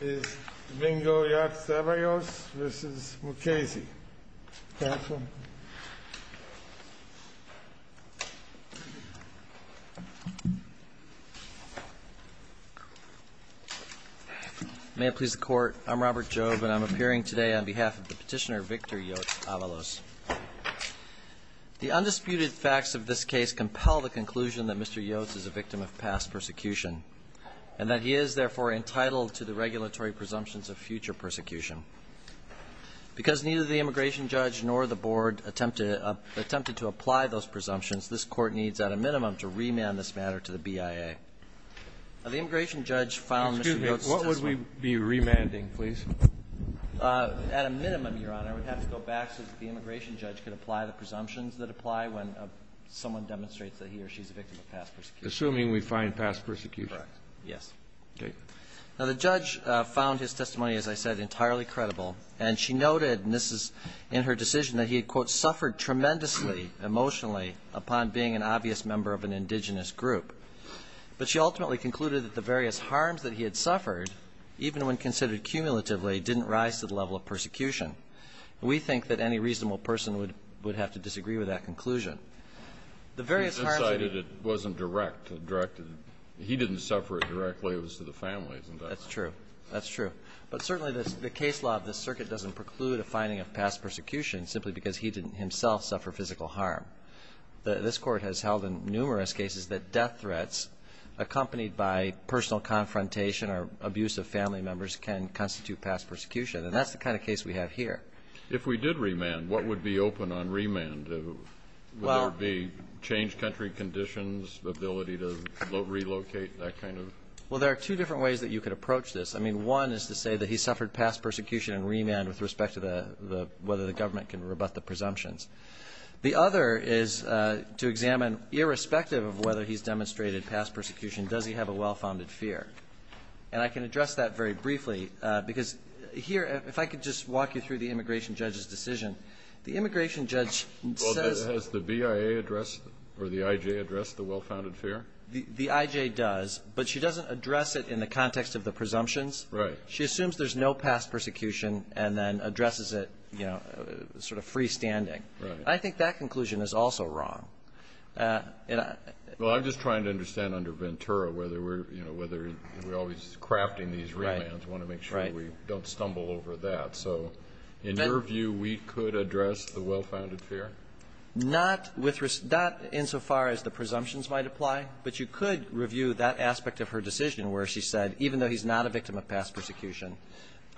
May it please the Court, I'm Robert Jobe and I'm appearing today on behalf of the petitioner Victor Yotz-Avalos. The undisputed facts of this case compel the conclusion that Mr. Yotz is a victim of past persecution and that he is therefore entitled to the regulatory presumptions of future persecution. Because neither the immigration judge nor the board attempted to apply those presumptions, this Court needs at a minimum to remand this matter to the BIA. Now, the immigration judge found Mr. Yotz's testimony. Excuse me. What would we be remanding, please? At a minimum, Your Honor, we'd have to go back so that the immigration judge could apply the presumptions that apply when someone demonstrates that he or she is a victim of past persecution. Assuming we find past persecution. Correct. Yes. Okay. Now, the judge found his testimony, as I said, entirely credible. And she noted, and this is in her decision, that he had, quote, suffered tremendously emotionally upon being an obvious member of an indigenous group. But she ultimately concluded that the various harms that he had suffered, even when considered cumulatively, didn't rise to the level of persecution. We think that any reasonable person would have to disagree with that conclusion. The various harms that he had suffered. It wasn't direct. He didn't suffer it directly. It was to the families. Isn't that right? That's true. That's true. But certainly the case law of this circuit doesn't preclude a finding of past persecution simply because he didn't himself suffer physical harm. This Court has held in numerous cases that death threats accompanied by personal confrontation or abuse of family members can constitute past persecution. And that's the kind of case we have here. If we did remand, what would be open on remand? Would there be changed country conditions, the ability to relocate, that kind of? Well, there are two different ways that you could approach this. I mean, one is to say that he suffered past persecution and remand with respect to whether the government can rebut the presumptions. The other is to examine, irrespective of whether he's demonstrated past persecution, does he have a well-founded fear? And I can address that very briefly because here, if I could just walk you through the immigration judge's decision, the immigration judge says. Has the BIA addressed or the IJ addressed the well-founded fear? The IJ does, but she doesn't address it in the context of the presumptions. Right. She assumes there's no past persecution and then addresses it, you know, sort of freestanding. Right. I think that conclusion is also wrong. Well, I'm just trying to understand under Ventura whether, you know, we're always crafting these remands. We want to make sure we don't stumble over that. So in your view, we could address the well-founded fear? Not insofar as the presumptions might apply, but you could review that aspect of her decision where she said, even though he's not a victim of past persecution,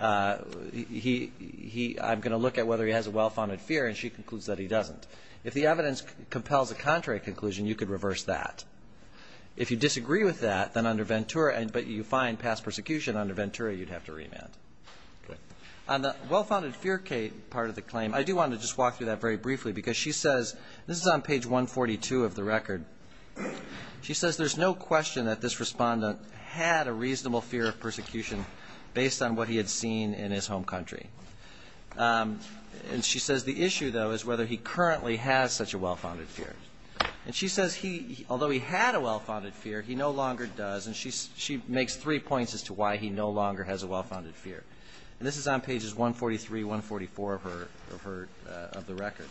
I'm going to look at whether he has a well-founded fear, and she concludes that he doesn't. If the evidence compels a contrary conclusion, you could reverse that. If you disagree with that, then under Ventura, but you find past persecution under Ventura, you'd have to remand. Okay. On the well-founded fear part of the claim, I do want to just walk through that very briefly because she says, this is on page 142 of the record, she says there's no question that this respondent had a reasonable fear of persecution based on what he had seen in his home country. And she says the issue, though, is whether he currently has such a well-founded fear. And she says he, although he had a well-founded fear, he no longer does, and she makes three points as to why he no longer has a well-founded fear. And this is on pages 143, 144 of the record.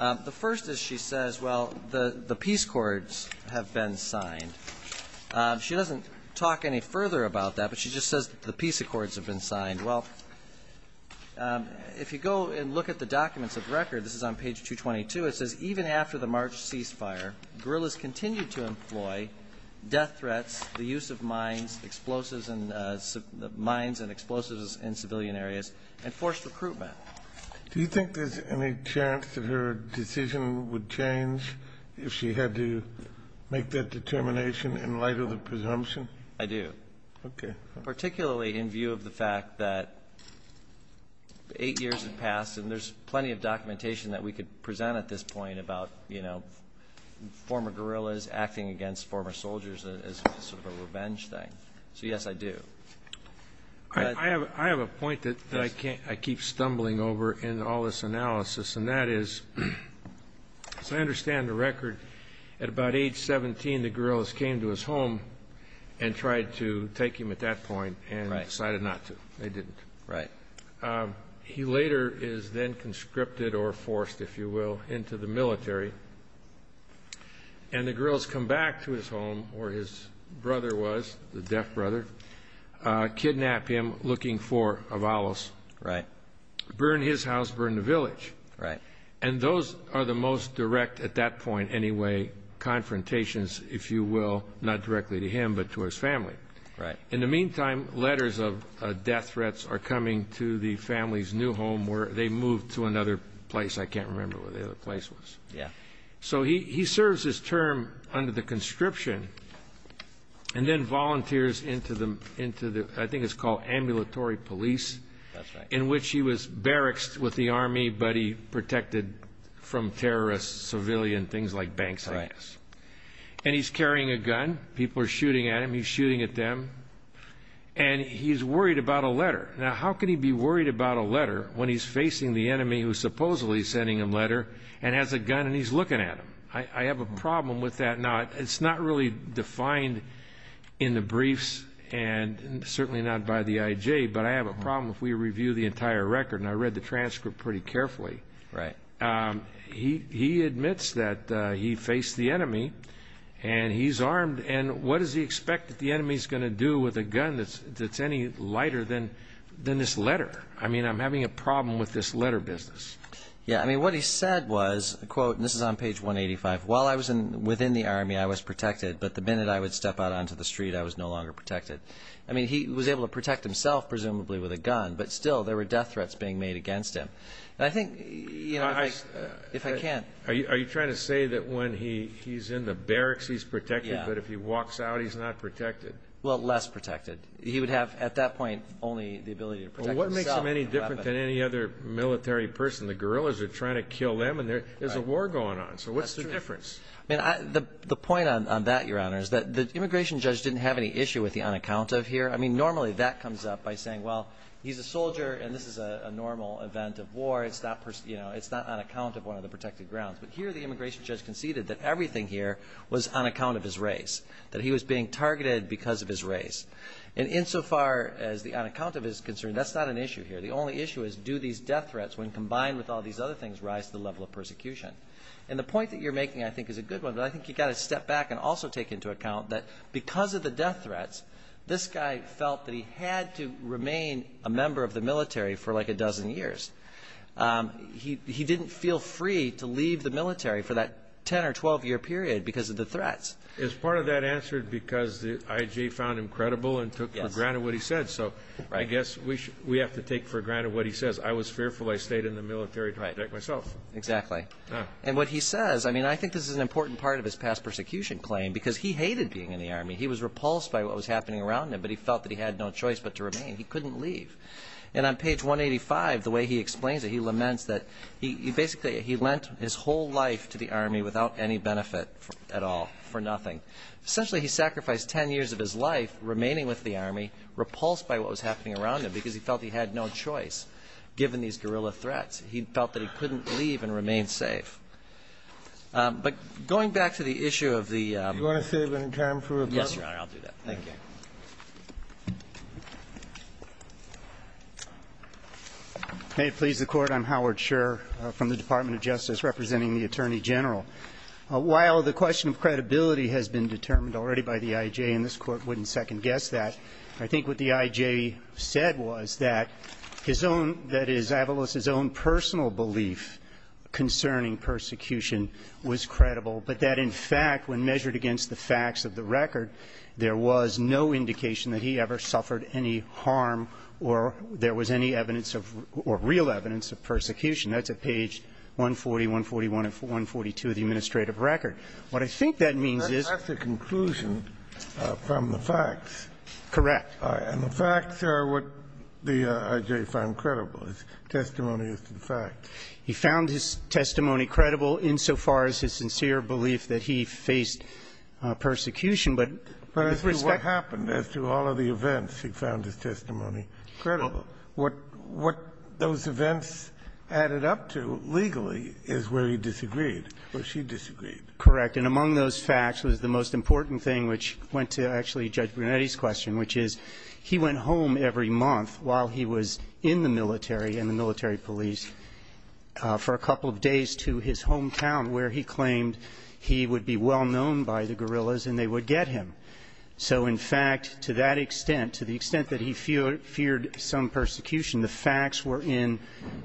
The first is she says, well, the peace accords have been signed. She doesn't talk any further about that, but she just says the peace accords have been signed. Well, if you go and look at the documents of the record, this is on page 222, it says, even after the March ceasefire, guerrillas continued to employ death threats, the use of mines, explosives, mines and explosives in civilian areas, and forced recruitment. Do you think there's any chance that her decision would change if she had to make that determination in light of the presumption? I do. Okay. Particularly in view of the fact that eight years have passed, and there's plenty of documentation that we could present at this point about, you know, former guerrillas acting against former soldiers as sort of a revenge thing. So, yes, I do. I have a point that I keep stumbling over in all this analysis, and that is, as I understand the record, at about age 17 the guerrillas came to his home and tried to take him at that point and decided not to. They didn't. Right. He later is then conscripted or forced, if you will, into the military, and the guerrillas come back to his home where his brother was, the deaf brother, kidnap him looking for Avalos. Right. Burn his house, burn the village. Right. And those are the most direct, at that point anyway, confrontations, if you will, not directly to him but to his family. Right. In the meantime, letters of death threats are coming to the family's new home where they moved to another place. I can't remember what the other place was. Yeah. So he serves his term under the conscription and then volunteers into the, I think it's called ambulatory police. That's right. In which he was barracks with the Army but he protected from terrorists, civilian things like banks, I guess. Right. And he's carrying a gun. People are shooting at him. He's shooting at them. And he's worried about a letter. Now, how can he be worried about a letter when he's facing the enemy who's supposedly sending him a letter and has a gun and he's looking at him? I have a problem with that. Now, it's not really defined in the briefs and certainly not by the IJ, but I have a problem if we review the entire record, and I read the transcript pretty carefully. Right. He admits that he faced the enemy and he's armed. And what does he expect that the enemy is going to do with a gun that's any lighter than this letter? I mean, I'm having a problem with this letter business. Yeah. I mean, what he said was, and this is on page 185, while I was within the Army I was protected, but the minute I would step out onto the street I was no longer protected. I mean, he was able to protect himself presumably with a gun, but still there were death threats being made against him. And I think, you know, if I can't. Are you trying to say that when he's in the barracks he's protected, but if he walks out he's not protected? Well, less protected. He would have at that point only the ability to protect himself. Well, what makes him any different than any other military person? The guerrillas are trying to kill them and there's a war going on. So what's the difference? I mean, the point on that, Your Honor, is that the immigration judge didn't have any issue with the unaccount of here. I mean, normally that comes up by saying, well, he's a soldier and this is a normal event of war. It's not on account of one of the protected grounds. But here the immigration judge conceded that everything here was on account of his race, that he was being targeted because of his race. And insofar as the unaccount of is concerned, that's not an issue here. The only issue is do these death threats, when combined with all these other things, rise to the level of persecution? And the point that you're making, I think, is a good one, but I think you've got to step back and also take into account that because of the death threats, this guy felt that he had to remain a member of the military for like a dozen years. He didn't feel free to leave the military for that 10- or 12-year period because of the threats. Is part of that answered because the IG found him credible and took for granted what he said? So I guess we have to take for granted what he says. I was fearful I stayed in the military to protect myself. Exactly. And what he says, I mean, I think this is an important part of his past persecution claim because he hated being in the Army. He was repulsed by what was happening around him, but he felt that he had no choice but to remain. He couldn't leave. And on page 185, the way he explains it, he laments that basically he lent his whole life to the Army without any benefit at all, for nothing. Essentially, he sacrificed 10 years of his life remaining with the Army, repulsed by what was happening around him because he felt he had no choice. Given these guerrilla threats, he felt that he couldn't leave and remain safe. But going back to the issue of the – Do you want to save any time for rebuttal? Yes, Your Honor, I'll do that. Thank you. May it please the Court, I'm Howard Scherr from the Department of Justice, representing the Attorney General. While the question of credibility has been determined already by the IJ, and this Court wouldn't second-guess that, I think what the IJ said was that his own – that is, Avalos' own personal belief concerning persecution was credible, but that, in fact, when measured against the facts of the record, there was no indication that he ever suffered any harm or there was any evidence of – or real evidence of persecution. That's at page 140, 141 and 142 of the administrative record. What I think that means is – That's the conclusion from the facts. Correct. And the facts are what the IJ found credible, his testimony as to the facts. He found his testimony credible insofar as his sincere belief that he faced persecution, but – But as to what happened, as to all of the events, he found his testimony credible. What those events added up to legally is where he disagreed, where she disagreed. Correct. And among those facts was the most important thing, which went to actually Judge Brunetti's question, which is he went home every month while he was in the military and the military police for a couple of days to his hometown, where he claimed he would be well-known by the guerrillas and they would get him. So, in fact, to that extent, to the extent that he feared some persecution, the facts were in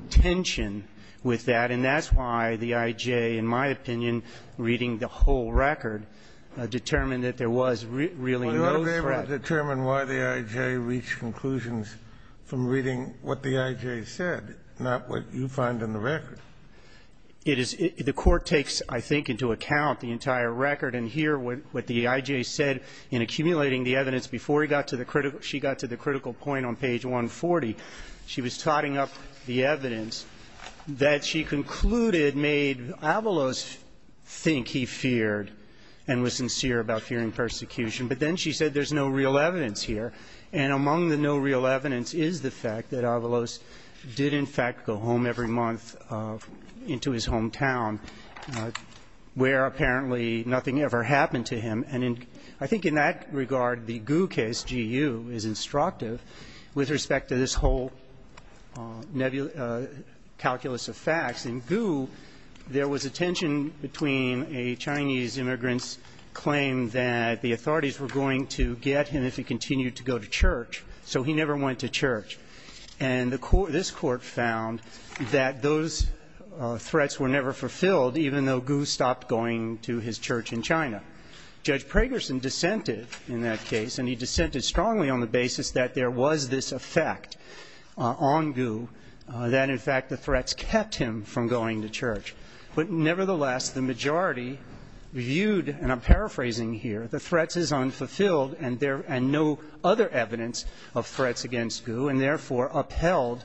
tension with that. And that's why the IJ, in my opinion, reading the whole record, determined that there was really no threat. Well, you ought to be able to determine why the IJ reached conclusions from reading what the IJ said, not what you find in the record. It is – the Court takes, I think, into account the entire record, and here what the IJ said in accumulating the evidence before he got to the critical – she got to the critical point on page 140. She was totting up the evidence that she concluded made Avalos think he feared and was sincere about fearing persecution. But then she said there's no real evidence here. And among the no real evidence is the fact that Avalos did, in fact, go home every month into his hometown, where apparently nothing ever happened to him. And I think in that regard, the Gu case, GU, is instructive with respect to this whole calculus of facts. In Gu, there was a tension between a Chinese immigrant's claim that the authorities were going to get him if he continued to go to church, so he never went to church. And the court – this Court found that those threats were never fulfilled, even though Gu stopped going to his church in China. Judge Pragerson dissented in that case, and he dissented strongly on the basis that there was this effect on Gu, that, in fact, the threats kept him from going to church. But nevertheless, the majority viewed – and I'm paraphrasing here – the threats is unfulfilled and there – and no other evidence of threats against Gu. And therefore, upheld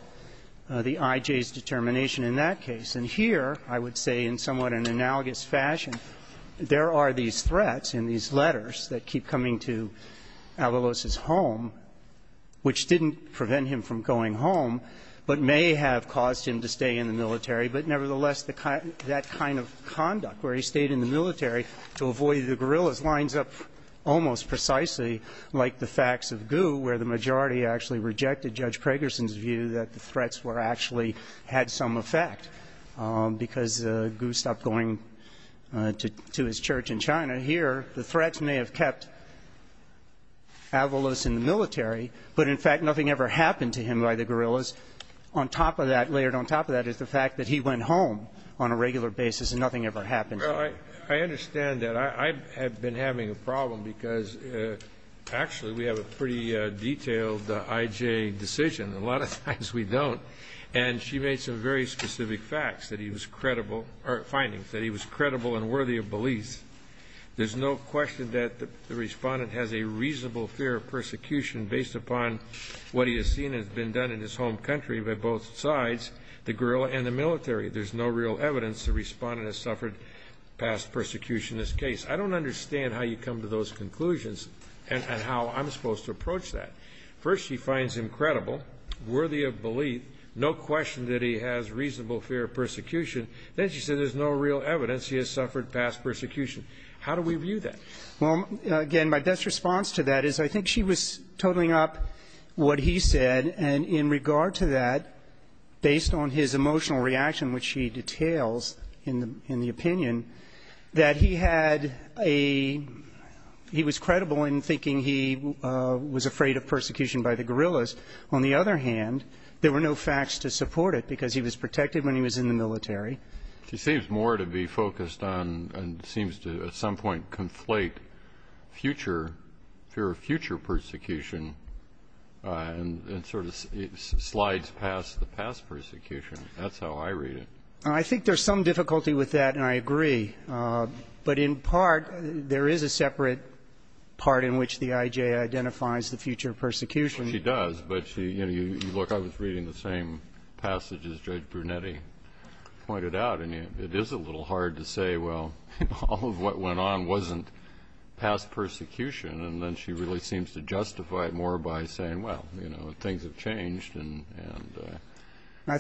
the IJ's determination in that case. And here, I would say in somewhat an analogous fashion, there are these threats in these letters that keep coming to Avalos's home, which didn't prevent him from going home, but may have caused him to stay in the military. But nevertheless, the – that kind of conduct, where he stayed in the military to avoid the guerrillas, lines up almost precisely like the facts of Gu, where the majority actually rejected Judge Pragerson's view that the threats were actually – had some effect, because Gu stopped going to his church in China. Here, the threats may have kept Avalos in the military, but, in fact, nothing ever happened to him by the guerrillas. On top of that – layered on top of that is the fact that he went home on a regular basis and nothing ever happened to him. Well, I understand that. I have been having a problem because, actually, we have a pretty detailed IJ decision. A lot of times we don't. And she made some very specific facts that he was credible – or findings that he was credible and worthy of belief. There's no question that the Respondent has a reasonable fear of persecution based upon what he has seen has been done in his home country by both sides, the guerrilla and the military. There's no real evidence the Respondent has suffered past persecution in this case. I don't understand how you come to those conclusions and how I'm supposed to approach that. First, she finds him credible, worthy of belief, no question that he has reasonable fear of persecution. Then she said there's no real evidence he has suffered past persecution. How do we view that? Well, again, my best response to that is I think she was totaling up what he said, and in regard to that, based on his emotional reaction, which she details in the opinion, that he had a – he was credible in thinking he was afraid of persecution by the guerrillas. On the other hand, there were no facts to support it because he was protected when he was in the military. She seems more to be focused on and seems to at some point conflate future – and sort of slides past the past persecution. That's how I read it. I think there's some difficulty with that, and I agree. But in part, there is a separate part in which the IJ identifies the future persecution. She does, but she – look, I was reading the same passage as Judge Brunetti pointed out, and it is a little hard to say, well, all of what went on wasn't past persecution, and then she really seems to justify it more by saying, well, you know, things have changed, and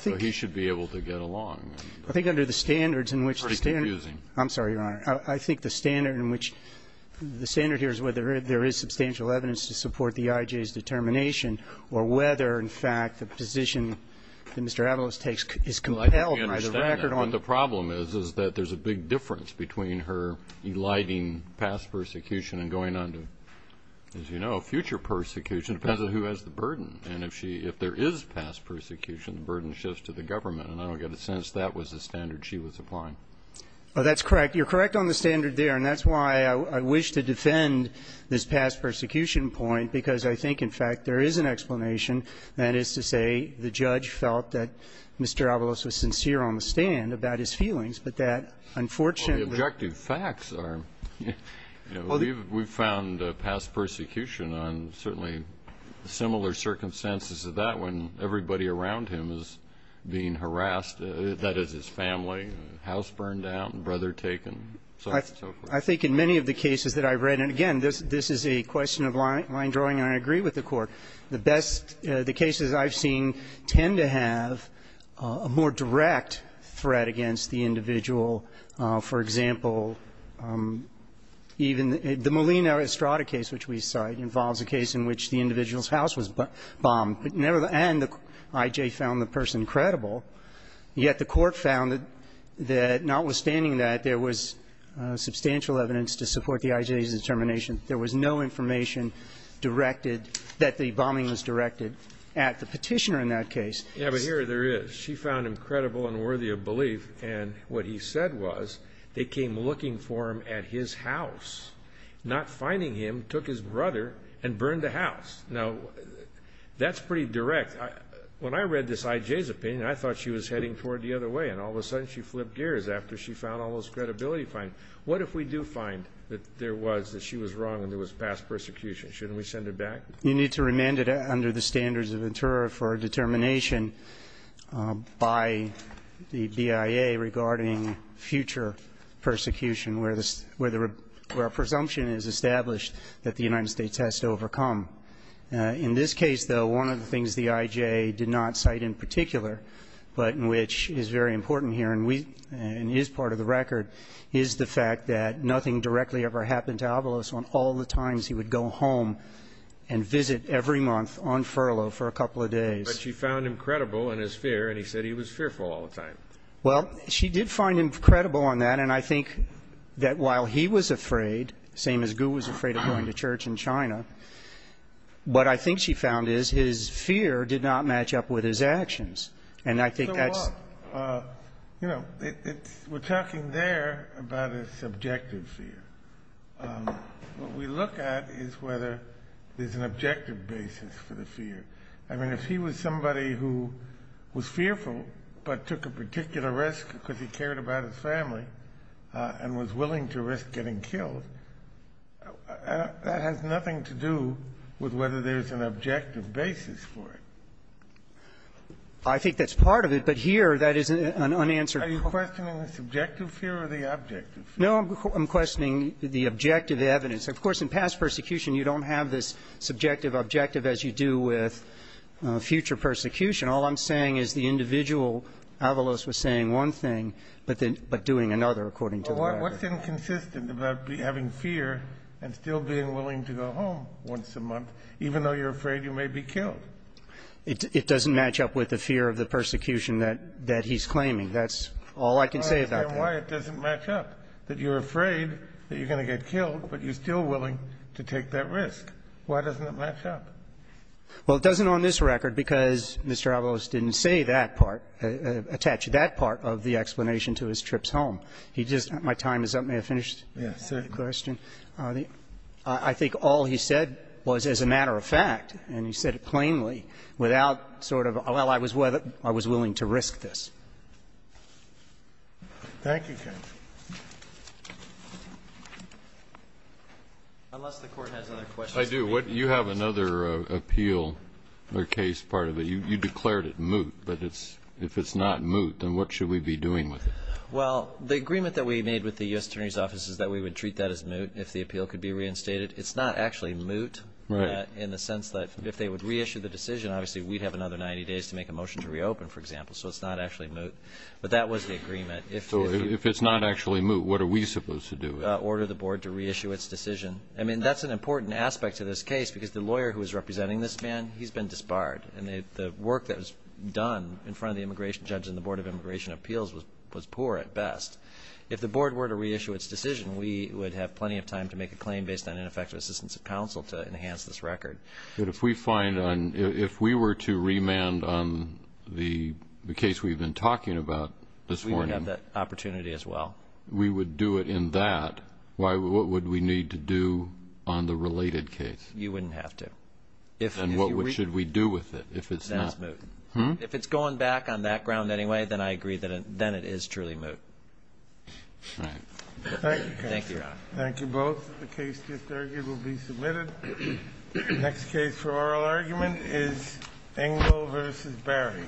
so he should be able to get along. I think under the standards in which the standard – It's pretty confusing. I'm sorry, Your Honor. I think the standard in which – the standard here is whether there is substantial evidence to support the IJ's determination or whether, in fact, the position that Mr. Avalos takes is compelled by the record on – Well, I think we understand that. As you know, future persecution depends on who has the burden, and if she – if there is past persecution, the burden shifts to the government, and I don't get a sense that was the standard she was applying. Well, that's correct. You're correct on the standard there, and that's why I wish to defend this past persecution point, because I think, in fact, there is an explanation, that is to say, the judge felt that Mr. Avalos was sincere on the stand about his feelings, but that unfortunately – Well, the objective facts are – we've found past persecution on certainly similar circumstances to that when everybody around him is being harassed, that is, his family, house burned down, brother taken, so forth. I think in many of the cases that I've read – and, again, this is a question of line drawing, and I agree with the Court. The best – the cases I've seen tend to have a more direct threat against the individual. For example, even the Molina Estrada case, which we cite, involves a case in which the individual's house was bombed. And the I.J. found the person credible. Yet the Court found that notwithstanding that, there was substantial evidence to support the I.J.'s determination. There was no information directed – that the bombing was directed at the petitioner in that case. Yeah, but here there is. She found him credible and worthy of belief, and what he said was they came looking for him at his house, not finding him, took his brother, and burned the house. Now, that's pretty direct. When I read this I.J.'s opinion, I thought she was heading for it the other way, and all of a sudden she flipped gears after she found all those credibility findings. What if we do find that there was – that she was wrong and there was past persecution? Shouldn't we send her back? You need to remand it under the standards of interro for a determination by the BIA regarding future persecution, where the – where a presumption is established that the United States has to overcome. In this case, though, one of the things the I.J. did not cite in particular, but which is very important here and we – and is part of the record, is the fact that nothing directly ever happened to Avalos on all the times he would go home and visit every month on furlough for a couple of days. But she found him credible in his fear, and he said he was fearful all the time. Well, she did find him credible on that, and I think that while he was afraid, same as Gu was afraid of going to church in China, what I think she found is his fear did not match up with his actions, and I think that's – You know, it's – we're talking there about a subjective fear. What we look at is whether there's an objective basis for the fear. I mean, if he was somebody who was fearful but took a particular risk because he cared about his family and was willing to risk getting killed, that has nothing to do with whether there's an objective basis for it. I think that's part of it, but here that is an unanswered question. Are you questioning the subjective fear or the objective fear? No, I'm questioning the objective evidence. Of course, in past persecution you don't have this subjective objective as you do with future persecution. All I'm saying is the individual, Avalos, was saying one thing but doing another, according to the record. Well, what's inconsistent about having fear and still being willing to go home once a month, even though you're afraid you may be killed? It doesn't match up with the fear of the persecution that he's claiming. That's all I can say about that. I understand why it doesn't match up, that you're afraid that you're going to get killed, but you're still willing to take that risk. Why doesn't it match up? Well, it doesn't on this record because Mr. Avalos didn't say that part, attach that part of the explanation to his trips home. May I finish the question? Yes, sir. I think all he said was, as a matter of fact, and he said it plainly, without sort of, well, I was willing to risk this. Thank you. Unless the Court has other questions. I do. You have another appeal or case part of it. You declared it moot, but if it's not moot, then what should we be doing with it? Well, the agreement that we made with the U.S. Attorney's office is that we would treat that as moot if the appeal could be reinstated. It's not actually moot in the sense that if they would reissue the decision, obviously we'd have another 90 days to make a motion to reopen, for example, so it's not actually moot. But that was the agreement. So if it's not actually moot, what are we supposed to do? Order the board to reissue its decision. I mean, that's an important aspect to this case because the lawyer who is representing this man, he's been disbarred, and the work that was done in front of the immigration judge and the Board of Immigration Appeals was poor at best. If the board were to reissue its decision, we would have plenty of time to make a claim based on ineffective assistance of counsel to enhance this record. But if we were to remand on the case we've been talking about this morning. We would have that opportunity as well. We would do it in that. What would we need to do on the related case? You wouldn't have to. Then what should we do with it if it's not? That's moot. If it's going back on that ground anyway, then I agree that it is truly moot. Thank you, Your Honor. Thank you both. The case disargued will be submitted. The next case for oral argument is Engel v. Barry.